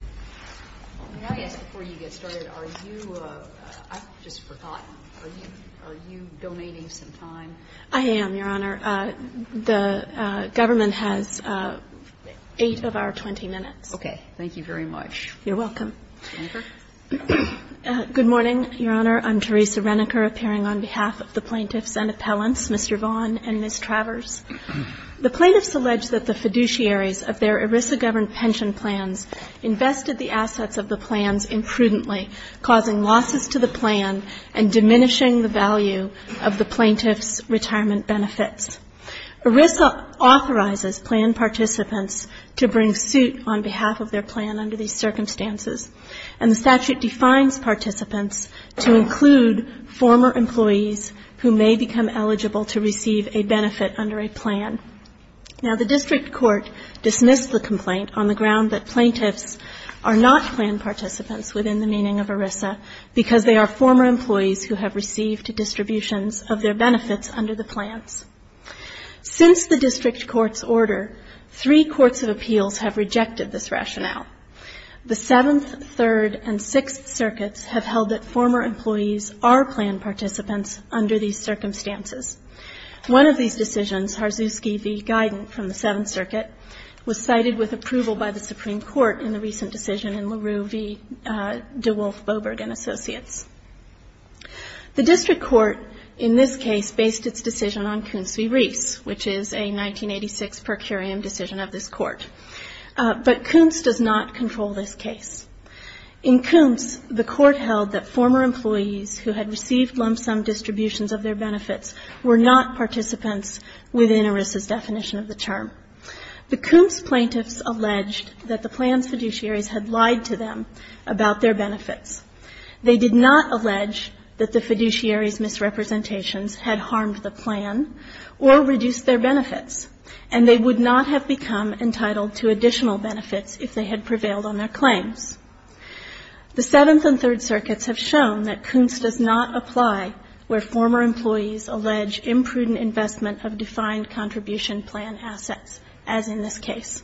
Can I ask before you get started, are you, I've just forgotten, are you donating some time? I am, Your Honor. The government has 8 of our 20 minutes. Okay. Thank you very much. You're welcome. Reneker? Good morning, Your Honor. I'm Teresa Reneker, appearing on behalf of the plaintiffs and appellants, Mr. Vaughn and Ms. Travers. The plaintiffs allege that the fiduciaries of their ERISA-governed pension plans invested the assets of the plans imprudently, causing losses to the plan and diminishing the value of the plaintiffs' retirement benefits. ERISA authorizes plan participants to bring suit on behalf of their plan under these circumstances, and the statute defines participants to include former employees who may become eligible to receive a benefit under a plan. Now, the district court dismissed the complaint on the ground that plaintiffs are not plan participants within the meaning of ERISA because they are former employees who have received distributions of their benefits under the plans. Since the district court's order, three courts of appeals have rejected this rationale. The Seventh, Third, and Sixth Circuits have held that former employees are plan participants under these circumstances. One of these decisions, Harzuski v. Guidant from the Seventh Circuit, was cited with approval by the Supreme Court in the recent decision in LaRue v. DeWolf-Boberg and Associates. The district court in this case based its decision on Kuntz v. Reis, which is a 1986 per curiam decision of this court. But Kuntz does not control this case. In Kuntz, the court held that former employees who had received lump-sum distributions of their benefits were not participants within ERISA's definition of the term. The Kuntz plaintiffs alleged that the plan's fiduciaries had lied to them about their benefits. They did not allege that the fiduciaries' misrepresentations had harmed the plan or reduced their benefits, and they would not have become entitled to additional benefits if they had prevailed on their claims. The Seventh and Third Circuits have shown that Kuntz does not apply where former employees allege imprudent investment of defined contribution plan assets, as in this case.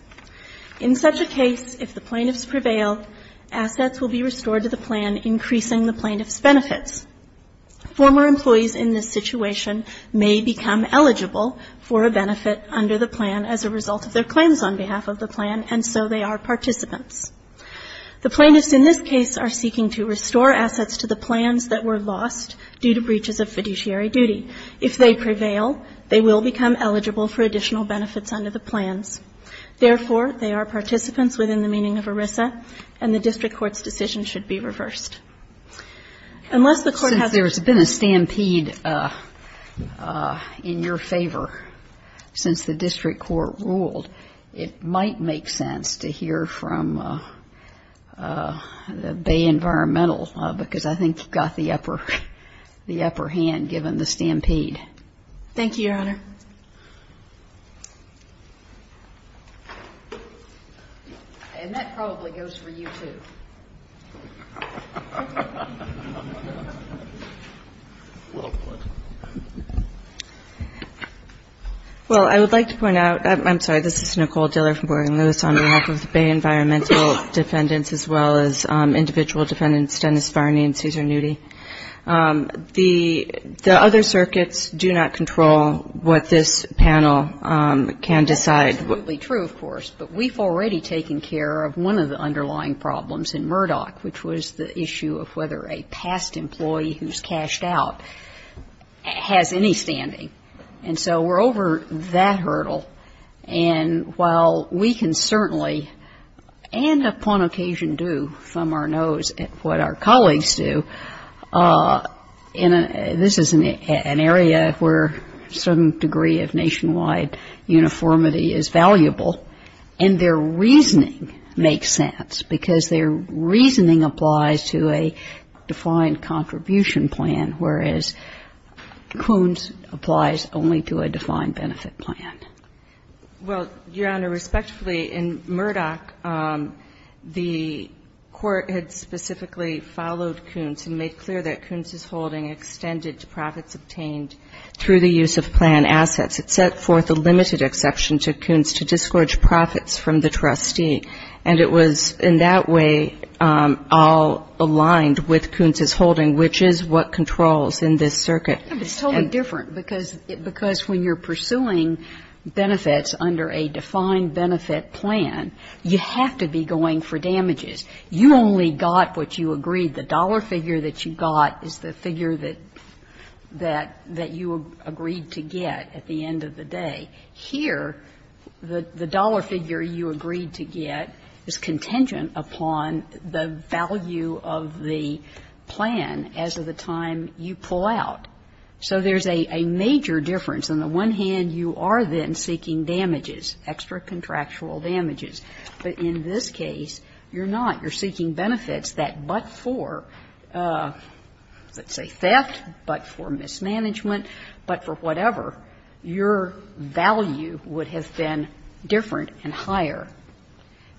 In such a case, if the plaintiffs prevail, assets will be restored to the plan, increasing the plaintiffs' benefits. Former employees in this situation may become eligible for a benefit under the plan as a result of their claims on behalf of the plan, and so they are participants. The plaintiffs in this case are seeking to restore assets to the plans that were lost due to breaches of fiduciary duty. If they prevail, they will become eligible for additional benefits under the plans. Therefore, they are participants within the meaning of ERISA, and the district court's decision should be reversed. Since there's been a stampede in your favor since the district court ruled, it might make sense to hear from the Bay Environmental, because I think you've got the upper hand given the stampede. Thank you, Your Honor. And that probably goes for you, too. Well, I would like to point out, I'm sorry, this is Nicole Diller from Morgan Lewis on behalf of the Bay Environmental defendants, as well as individual defendants Dennis Varney and Cesar Nudy. The other circuits do not control what this panel can decide. Absolutely true, of course. But we've already taken care of one of the underlying problems in Murdoch, which was the issue of whether a past employee who's cashed out has any standing. And so we're over that hurdle. And while we can certainly, and upon occasion do from our nose what our colleagues do, this is an area where a certain degree of nationwide uniformity is valuable. And their reasoning makes sense, because their reasoning applies to a defined contribution plan, whereas Kuntz applies only to a defined benefit plan. Well, Your Honor, respectfully, in Murdoch, the court had specifically followed Kuntz and made clear that Kuntz's holding extended to profits obtained through the use of plan assets. It set forth a limited exception to Kuntz to disgorge profits from the trustee, and it was in that way all aligned with Kuntz's holding, which is what controls in this circuit. It's totally different, because when you're pursuing benefits under a defined benefit plan, you have to be going for damages. You only got what you agreed. The dollar figure that you got is the figure that you agreed to get at the end of the day. Here, the dollar figure you agreed to get is contingent upon the value of the plan as of the time you pull out. So there's a major difference. On the one hand, you are then seeking damages, extra contractual damages. But in this case, you're not. You're seeking benefits that but for, let's say, theft, but for mismanagement, but for whatever, your value would have been different and higher.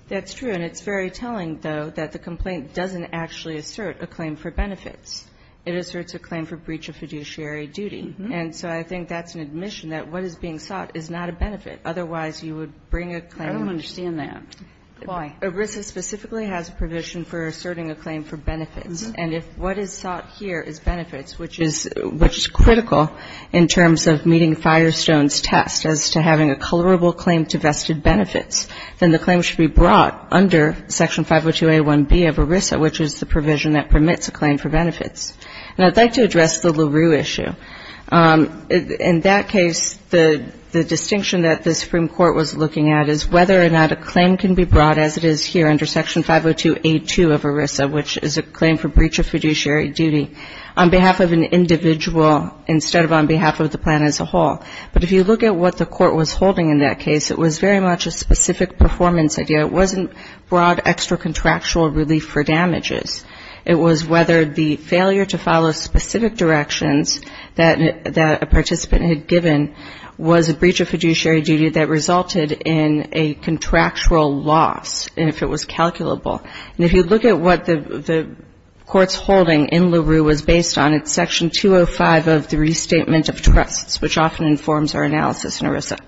That's true. And it's very telling, though, that the complaint doesn't actually assert a claim for benefits. It asserts a claim for breach of fiduciary duty. And so I think that's an admission that what is being sought is not a benefit. Otherwise, you would bring a claim. I don't understand that. Why? ERISA specifically has a provision for asserting a claim for benefits. And if what is sought here is benefits, which is critical in terms of meeting Firestone's test as to having a colorable claim to vested benefits, then the claim should be brought under Section 502A1B of ERISA, which is the provision that permits a claim for benefits. And I'd like to address the LaRue issue. In that case, the distinction that the Supreme Court was looking at is whether or not a claim can be brought, as it is here under Section 502A2 of ERISA, which is a claim for breach of fiduciary duty, on behalf of an individual instead of on behalf of the plan as a whole. But if you look at what the court was holding in that case, it was very much a specific performance idea. It wasn't broad extra-contractual relief for damages. It was whether the failure to follow specific directions that a participant had given was a breach of fiduciary duty that resulted in a contractual loss, if it was calculable. And if you look at what the court's holding in LaRue was based on, it's Section 205 of the Restatement of Trusts, which often informs our analysis in ERISA.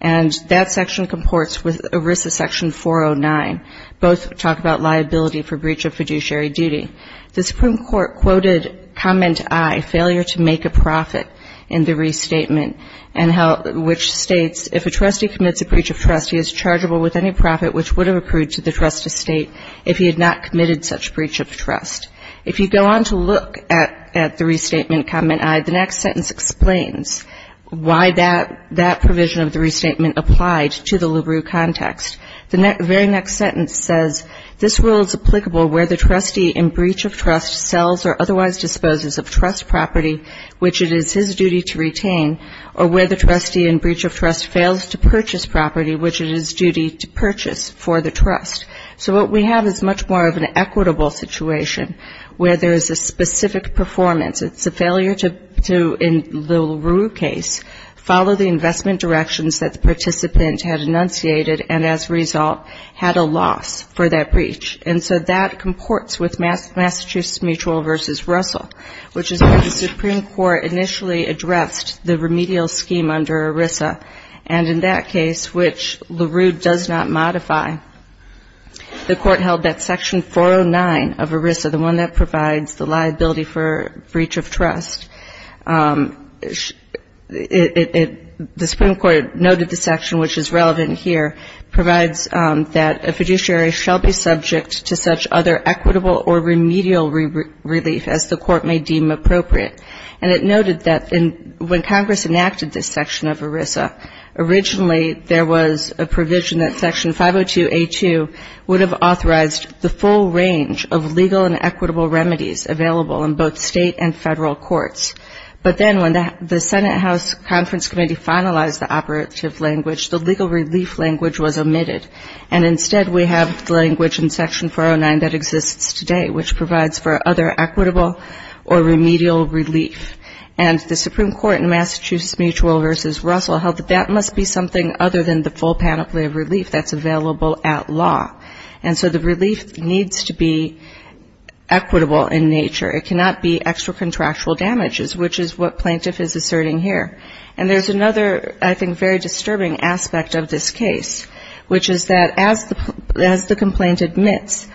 And that section comports with ERISA Section 409. Both talk about liability for breach of fiduciary duty. The Supreme Court quoted Comment I, Failure to Make a Profit in the Restatement, which states, If a trustee commits a breach of trust, he is chargeable with any profit which would have accrued to the trust estate if he had not committed such breach of trust. If you go on to look at the restatement, Comment I, the next sentence explains why that provision of the restatement applied to the LaRue context. The very next sentence says, This rule is applicable where the trustee in breach of trust sells or otherwise disposes of trust property which it is his duty to retain, or where the trustee in breach of trust fails to purchase property which it is his duty to purchase for the trust. So what we have is much more of an equitable situation where there is a specific performance. It's a failure to, in the LaRue case, follow the investment directions that the participant had enunciated and as a result had a loss for that breach. And so that comports with Massachusetts Mutual v. Russell, which is where the Supreme Court initially addressed the remedial scheme under ERISA, and in that case, which LaRue does not modify, the Court held that Section 409 of ERISA, the one that provides the liability for breach of trust, the Supreme Court noted the section which is relevant here, provides that a fiduciary shall be subject to such other equitable or remedial relief as the Court may deem appropriate. And it noted that when Congress enacted this section of ERISA, originally there was a provision that Section 502A2 would have authorized the full range of legal and equitable remedies available in both State and Federal courts. But then when the Senate House Conference Committee finalized the operative language, the legal relief language was omitted, and instead we have the language in Section 409 that exists today, which provides for other equitable or remedial relief. And the Supreme Court in Massachusetts Mutual v. Russell held that that must be something other than the full panoply of relief that's available at law. And so the relief needs to be equitable in nature. It cannot be extra contractual damages, which is what Plaintiff is asserting here. And there's another, I think, very disturbing aspect of this case, which is that as the complaint admits,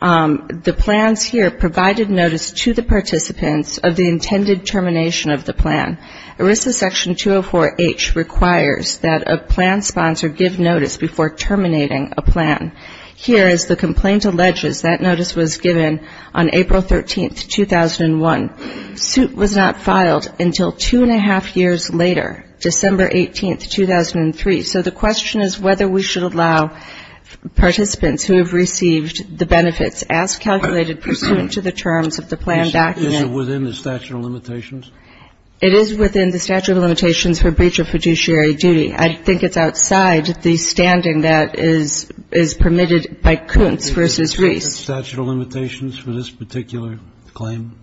the plans here provided notice to the participants of the intended termination of the plan. ERISA Section 204H requires that a plan sponsor give notice before terminating a plan. Here, as the complaint alleges, that notice was given on April 13, 2001. The suit was not filed until two and a half years later, December 18, 2003. So the question is whether we should allow participants who have received the benefits as calculated pursuant to the terms of the plan document. Is it within the statute of limitations? It is within the statute of limitations for breach of fiduciary duty. I think it's outside the standing that is permitted by Kuntz v. Reese. Is it within the statute of limitations for this particular claim?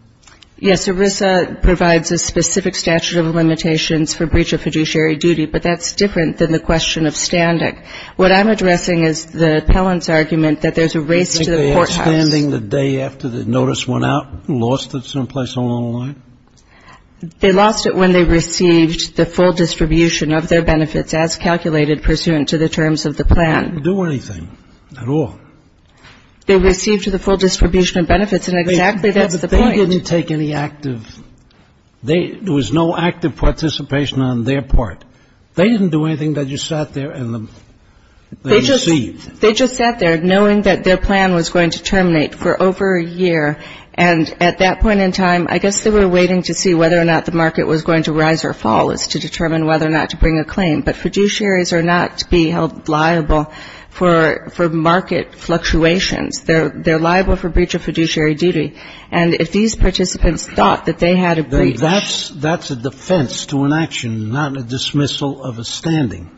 Yes. ERISA provides a specific statute of limitations for breach of fiduciary duty, but that's different than the question of standing. What I'm addressing is the appellant's argument that there's a race to the courthouse. Do you think they had standing the day after the notice went out and lost it someplace along the line? They lost it when they received the full distribution of their benefits as calculated pursuant to the terms of the plan. They didn't do anything at all. They received the full distribution of benefits, and exactly that's the point. But they didn't take any active. There was no active participation on their part. They didn't do anything. They just sat there and they received. They just sat there knowing that their plan was going to terminate for over a year. And at that point in time, I guess they were waiting to see whether or not the market was going to rise or fall as to determine whether or not to bring a claim. But fiduciaries are not to be held liable for market fluctuations. They're liable for breach of fiduciary duty. And if these participants thought that they had a breach. That's a defense to an action, not a dismissal of a standing.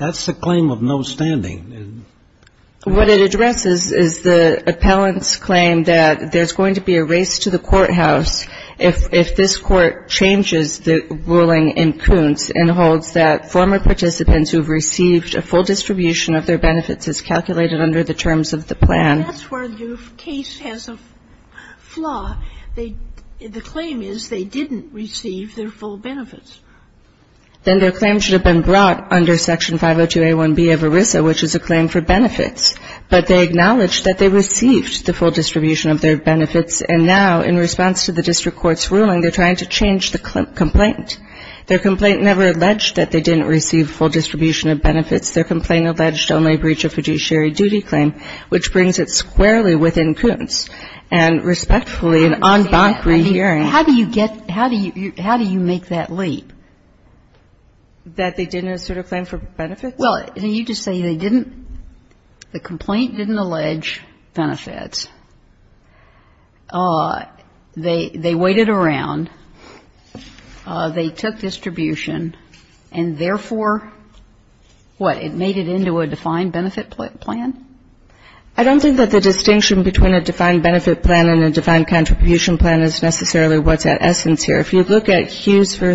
That's a claim of no standing. What it addresses is the appellant's claim that there's going to be a race to the courthouse if this Court changes the ruling in Kuntz and holds that former participants who have received a full distribution of their benefits as calculated under the terms of the plan. That's where the case has a flaw. The claim is they didn't receive their full benefits. Then their claim should have been brought under Section 502A1B of ERISA, which is a claim for benefits. But they acknowledged that they received the full distribution of their benefits and now in response to the district court's ruling, they're trying to change the complaint. Their complaint never alleged that they didn't receive full distribution of benefits. Their complaint alleged only a breach of fiduciary duty claim, which brings it squarely within Kuntz. And respectfully, an en banc rehearing. Kagan. I mean, how do you get, how do you make that leap? That they didn't assert a claim for benefits? Well, you just say they didn't, the complaint didn't allege benefits. They waited around. They took distribution, and therefore, what, it made it into a defined benefit plan? I don't think that the distinction between a defined benefit plan and a defined contribution plan is necessarily what's at essence here. If you look at Hughes v.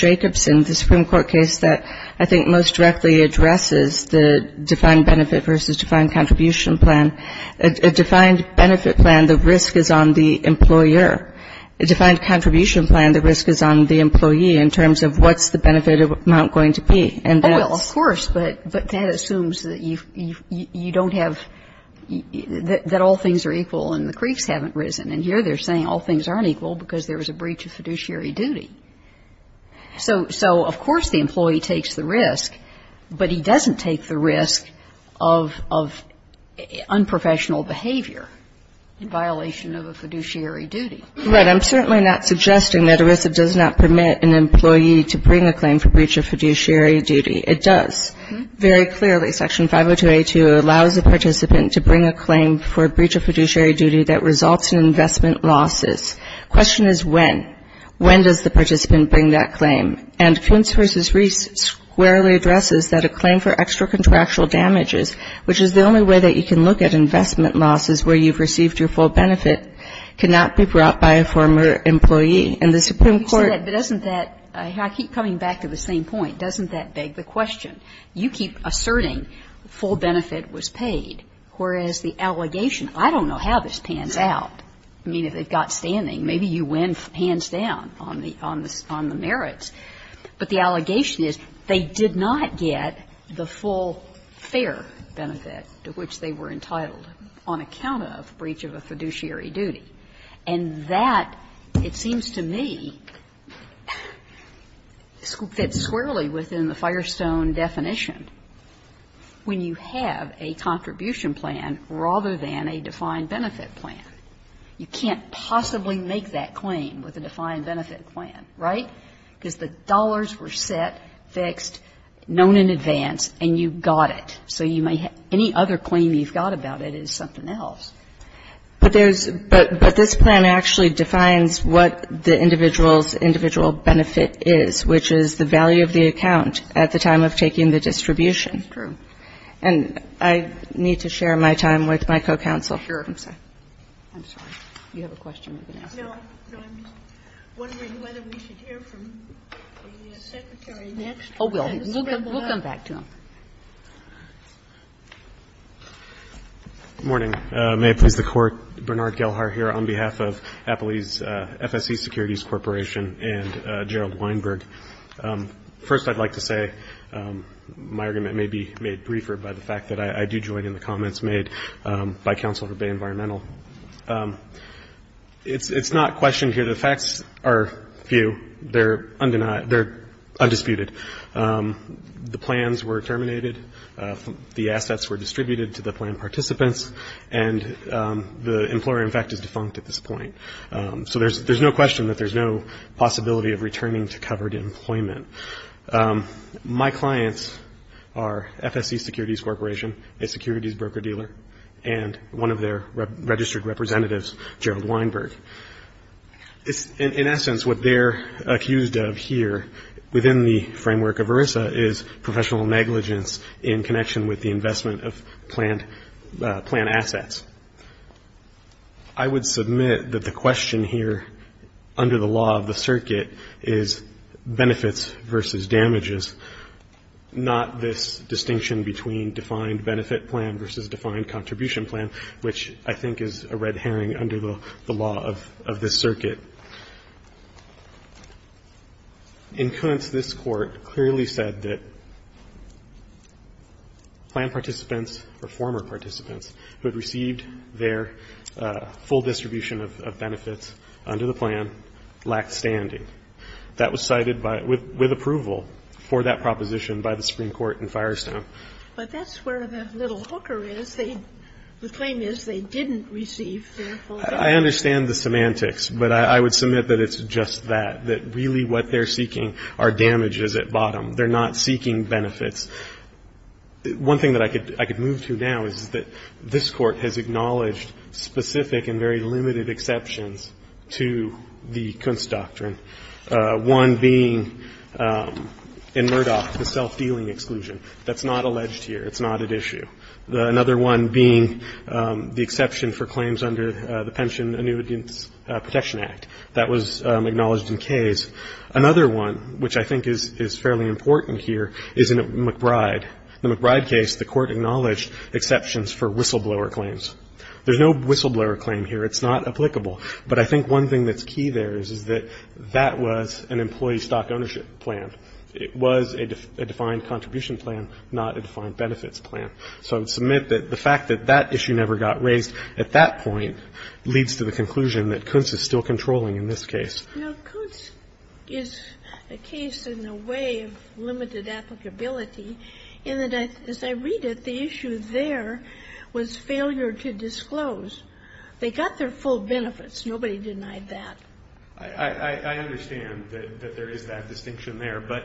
Jacobson, the Supreme Court case that I think most directly addresses the defined benefit versus defined contribution plan, a defined benefit plan, the risk is on the employer. A defined contribution plan, the risk is on the employee in terms of what's the benefit amount going to be. Well, of course, but that assumes that you don't have, that all things are equal and the creeks haven't risen. And here they're saying all things aren't equal because there was a breach of fiduciary duty. So, of course, the employee takes the risk, but he doesn't take the risk of unprofessional behavior in violation of a fiduciary duty. Right. I'm certainly not suggesting that ERISA does not permit an employee to bring a claim for breach of fiduciary duty. It does. Very clearly, Section 502A2 allows a participant to bring a claim for a breach of fiduciary duty that results in investment losses. The question is when. When does the participant bring that claim? And Kuntz v. Reese squarely addresses that a claim for extra-contractual damages, which is the only way that you can look at investment losses where you've received your full benefit, cannot be brought by a former employee. And the Supreme Court ---- Kagan in the same point, doesn't that beg the question? You keep asserting full benefit was paid, whereas the allegation ---- I don't know how this pans out. I mean, if it got standing, maybe you win hands down on the merits. But the allegation is they did not get the full fair benefit to which they were entitled on account of breach of a fiduciary duty. And that, it seems to me, fits squarely within the Firestone definition, when you have a contribution plan rather than a defined benefit plan. You can't possibly make that claim with a defined benefit plan, right? Because the dollars were set, fixed, known in advance, and you got it. So you may have ---- any other claim you've got about it is something else. But there's ---- but this plan actually defines what the individual's individual benefit is, which is the value of the account at the time of taking the distribution. That's true. And I need to share my time with my co-counsel. Sure. I'm sorry. You have a question? No. No, I'm just wondering whether we should hear from the Secretary next. Oh, we'll come back to him. Good morning. May it please the Court. Bernard Gelhar here on behalf of Appley's FSC Securities Corporation and Gerald Weinberg. First, I'd like to say my argument may be made briefer by the fact that I do join in the comments made by Counsel for Bay Environmental. It's not questioned here. The facts are few. They're undeniable. They're undisputed. The plans were terminated. The assets were distributed to the plan participants. And the employer, in fact, is defunct at this point. So there's no question that there's no possibility of returning to covered employment. My clients are FSC Securities Corporation, a securities broker-dealer, and one of their registered representatives, Gerald Weinberg. In essence, what they're accused of here, within the framework of ERISA, is professional negligence in connection with the investment of planned assets. I would submit that the question here, under the law of the circuit, is benefits versus damages, not this distinction between defined benefit plan versus defined contribution plan, which I think is a red herring under the law of this circuit. In essence, this Court clearly said that plan participants or former participants who had received their full distribution of benefits under the plan lacked standing. That was cited with approval for that proposition by the Supreme Court in Firestone. But that's where the little hooker is. The claim is they didn't receive their full benefits. I understand the semantics, but I would submit that it's just that, that really what they're seeking are damages at bottom. They're not seeking benefits. One thing that I could move to now is that this Court has acknowledged specific and very limited exceptions to the Kunst doctrine, one being in Murdoch the self-dealing exclusion. That's not alleged here. It's not at issue. Another one being the exception for claims under the Pension Annuitants Protection Act. That was acknowledged in Kaye's. Another one, which I think is fairly important here, is in McBride. In the McBride case, the Court acknowledged exceptions for whistleblower claims. There's no whistleblower claim here. It's not applicable. But I think one thing that's key there is that that was an employee stock ownership plan. It was a defined contribution plan, not a defined benefits plan. So I would submit that the fact that that issue never got raised at that point leads to the conclusion that Kunst is still controlling in this case. Kagan. Now, Kunst is a case in a way of limited applicability in that, as I read it, the issue there was failure to disclose. They got their full benefits. Nobody denied that. I understand that there is that distinction there, but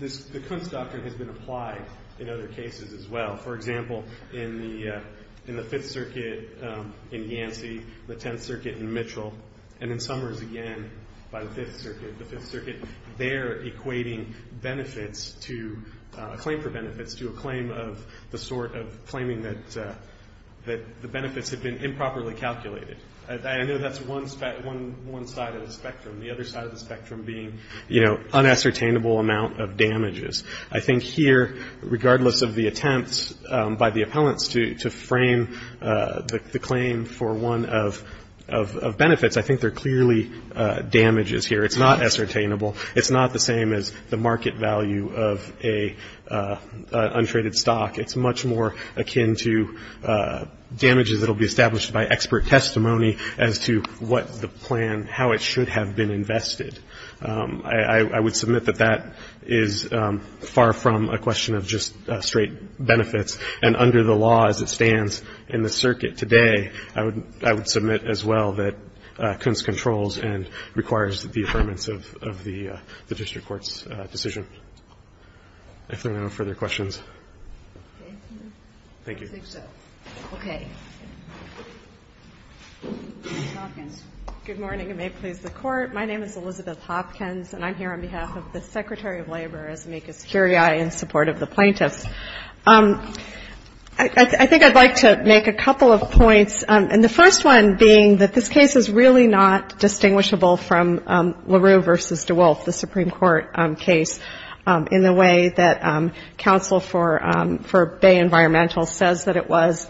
the Kunst doctrine has been applied in other cases as well. For example, in the Fifth Circuit in Yancey, the Tenth Circuit in Mitchell, and in Summers again by the Fifth Circuit. The Fifth Circuit, they're equating benefits to a claim for benefits to a claim of the I know that's one side of the spectrum. The other side of the spectrum being, you know, unassertainable amount of damages. I think here, regardless of the attempts by the appellants to frame the claim for one of benefits, I think they're clearly damages here. It's not assertainable. It's not the same as the market value of an untraded stock. It's much more akin to damages that will be established by expert testimony as to what the plan, how it should have been invested. I would submit that that is far from a question of just straight benefits, and under the law as it stands in the circuit today, I would submit as well that Kunst controls and requires the affirmance of the district court's decision. If there are no further questions. Thank you. I think so. Okay. Ms. Hopkins. Good morning, and may it please the Court. My name is Elizabeth Hopkins, and I'm here on behalf of the Secretary of Labor, as amicus curiae, in support of the plaintiffs. I think I'd like to make a couple of points, and the first one being that this case is really not distinguishable from LaRue v. DeWolf, the Supreme Court case. In the way that counsel for Bay Environmental says that it was.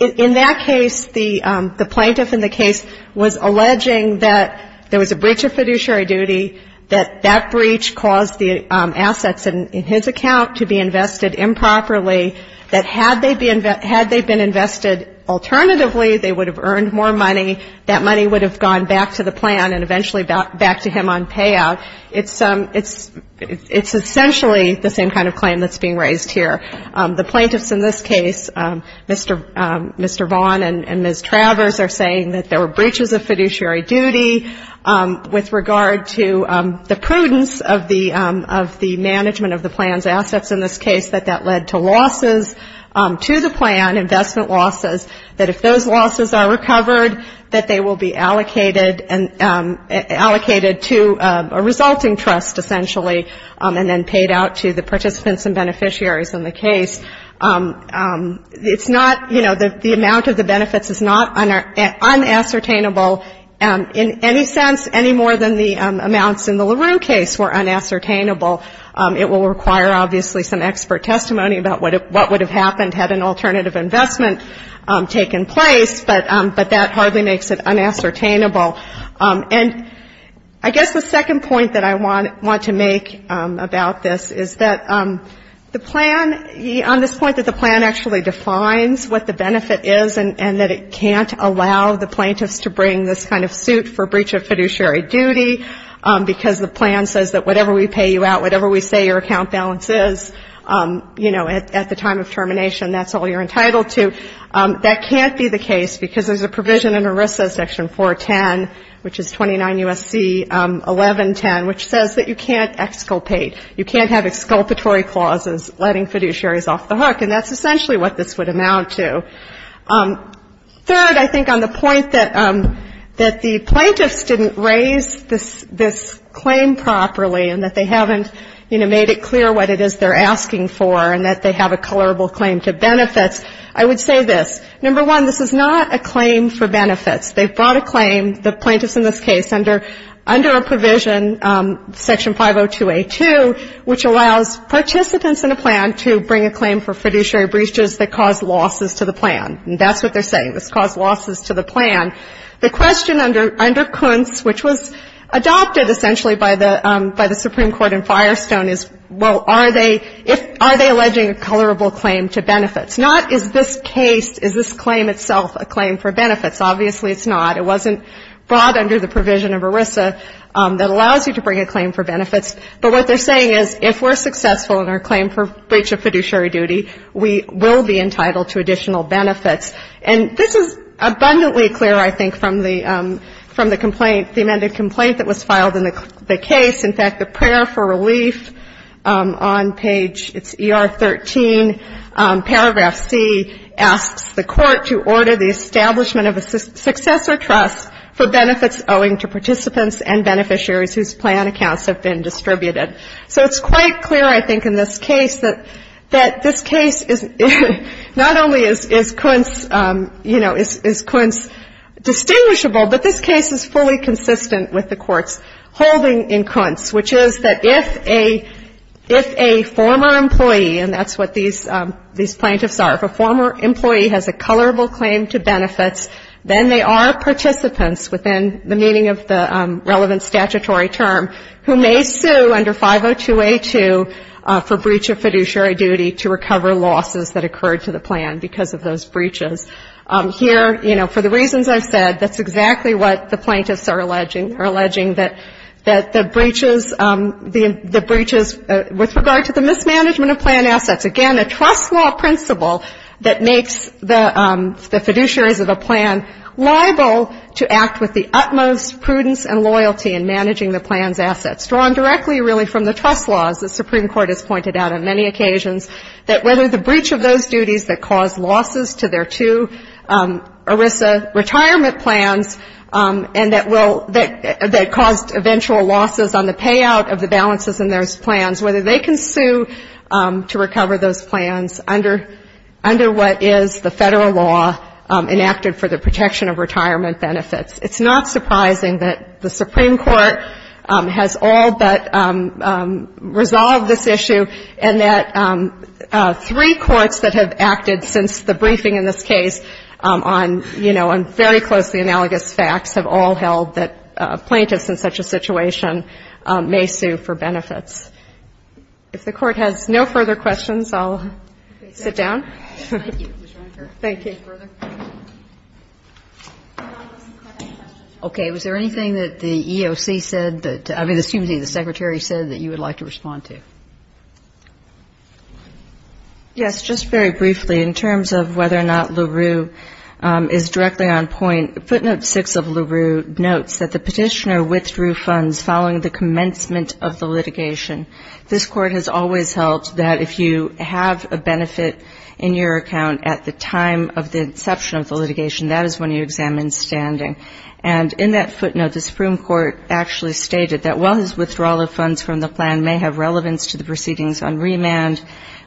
In that case, the plaintiff in the case was alleging that there was a breach of fiduciary duty, that that breach caused the assets in his account to be invested improperly, that had they been invested alternatively, they would have earned more money. That money would have gone back to the plan and eventually back to him on payout. It's essentially the same kind of claim that's being raised here. The plaintiffs in this case, Mr. Vaughn and Ms. Travers, are saying that there were breaches of fiduciary duty with regard to the prudence of the management of the plan's assets in this case, that that led to losses to the plan, investment losses, that if those losses are recovered, that they will be allocated to a resulting trust, essentially, and then paid out to the participants and beneficiaries in the case. It's not, you know, the amount of the benefits is not unassertainable in any sense, any more than the amounts in the LaRue case were unassertainable. It will require, obviously, some expert testimony about what would have happened had an alternative investment taken place, but that hardly makes it unassertainable. And I guess the second point that I want to make about this is that the plan, on this point that the plan actually defines what the benefit is and that it can't allow the plaintiffs to bring this kind of suit for breach of fiduciary duty because the plan says that whatever we pay you out with, whatever we say your account balance is, you know, at the time of termination, that's all you're entitled to. That can't be the case because there's a provision in ERISA section 410, which is 29 U.S.C. 1110, which says that you can't exculpate, you can't have exculpatory clauses letting fiduciaries off the hook, and that's essentially what this would amount to. Third, I think on the point that the plaintiffs didn't raise this claim properly and that they haven't, you know, made it clear what it is they're asking for and that they have a colorable claim to benefits, I would say this, number one, this is not a claim for benefits. They've brought a claim, the plaintiffs in this case, under a provision, section 502A2, which allows participants in a plan to bring a claim for fiduciary breaches that cause losses to the plan. And that's what they're saying, this caused losses to the plan. The question under Kuntz, which was adopted essentially by the Supreme Court in Firestone, is, well, are they alleging a colorable claim to benefits? Not is this case, is this claim itself a claim for benefits. Obviously it's not. It wasn't brought under the provision of ERISA that allows you to bring a claim for benefits. But what they're saying is if we're successful in our claim for breach of fiduciary duty, we will be entitled to additional benefits. And this is abundantly clear, I think, from the complaint, the amended complaint that was filed in the case. In fact, the prayer for relief on page, it's ER13, paragraph C, asks the court to order the establishment of a successor trust for benefits owing to participants and beneficiaries whose plan accounts have been distributed. So it's quite clear, I think, in this case that this case is not only is Kuntz, you know, is Kuntz distinguishable, but this case is fully consistent with the court's holding in Kuntz, which is that if a former employee, and that's what these plaintiffs are, if a former employee has a colorable claim to benefits, then they are participants within the meaning of the relevant statutory term, who may sue under 502A2 for breach of fiduciary duty to recover losses that occurred to the plan because of those breaches. Here, you know, for the reasons I've said, that's exactly what the plaintiffs are alleging, are alleging, that the breaches with regard to the mismanagement of plan assets, again, a trust law principle that makes the fiduciaries of a plan liable to act with the utmost prudence and loyalty in managing the plan's assets. Drawn directly, really, from the trust laws, the Supreme Court has pointed out on many occasions that whether the breach of those duties that caused losses to their two ERISA retirement plans and that caused eventual losses on the payout of the balances in those plans, whether they can sue to recover those plans under what is the Federal law enacted for the protection of retirement benefits. It's not surprising that the Supreme Court has all but resolved this issue and that three courts that have acted since the briefing in this case on, you know, on very closely analogous facts have all held that plaintiffs in such a situation may sue for benefits. If the Court has no further questions, I'll sit down. Thank you. Okay, was there anything that the EOC said that, I mean, excuse me, the Secretary said that you would like to respond to? Yes, just very briefly, in terms of whether or not LaRue is directly on point, Footnote 6 of LaRue notes that the petitioner withdrew funds following the commencement of the litigation. This Court has always held that if you have a benefit in your account at the time of the inception of the litigation, that is when you examine standing. And in that footnote, the Supreme Court actually stated that while his withdrawal of funds from the plan may have relevance to the proceedings on remand,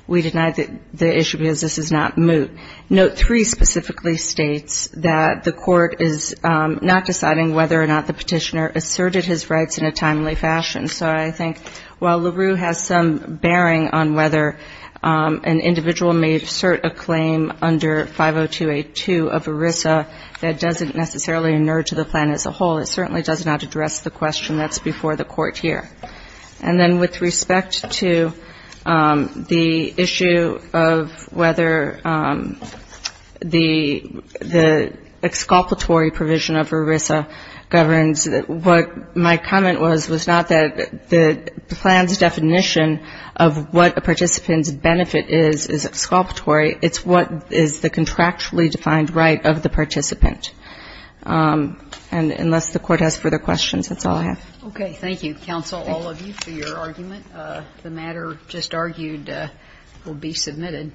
we deny the issue because this is not moot. Note 3 specifically states that the Court is not deciding whether or not the petitioner asserted his rights in a timely fashion. So I think while LaRue has some bearing on whether an individual may assert a claim under 50282 of ERISA that doesn't necessarily inert to the plan as a whole, it certainly does not address the question that's before the Court here. And then with respect to the issue of whether the exculpatory provision of ERISA governs, what my comment was was not that the plan's definition of what a participant's benefit is, is exculpatory, it's what is the contractually defined right of the participant. And unless the Court has further questions, that's all I have. Okay. Thank you, counsel, all of you, for your argument. The matter just argued will be submitted.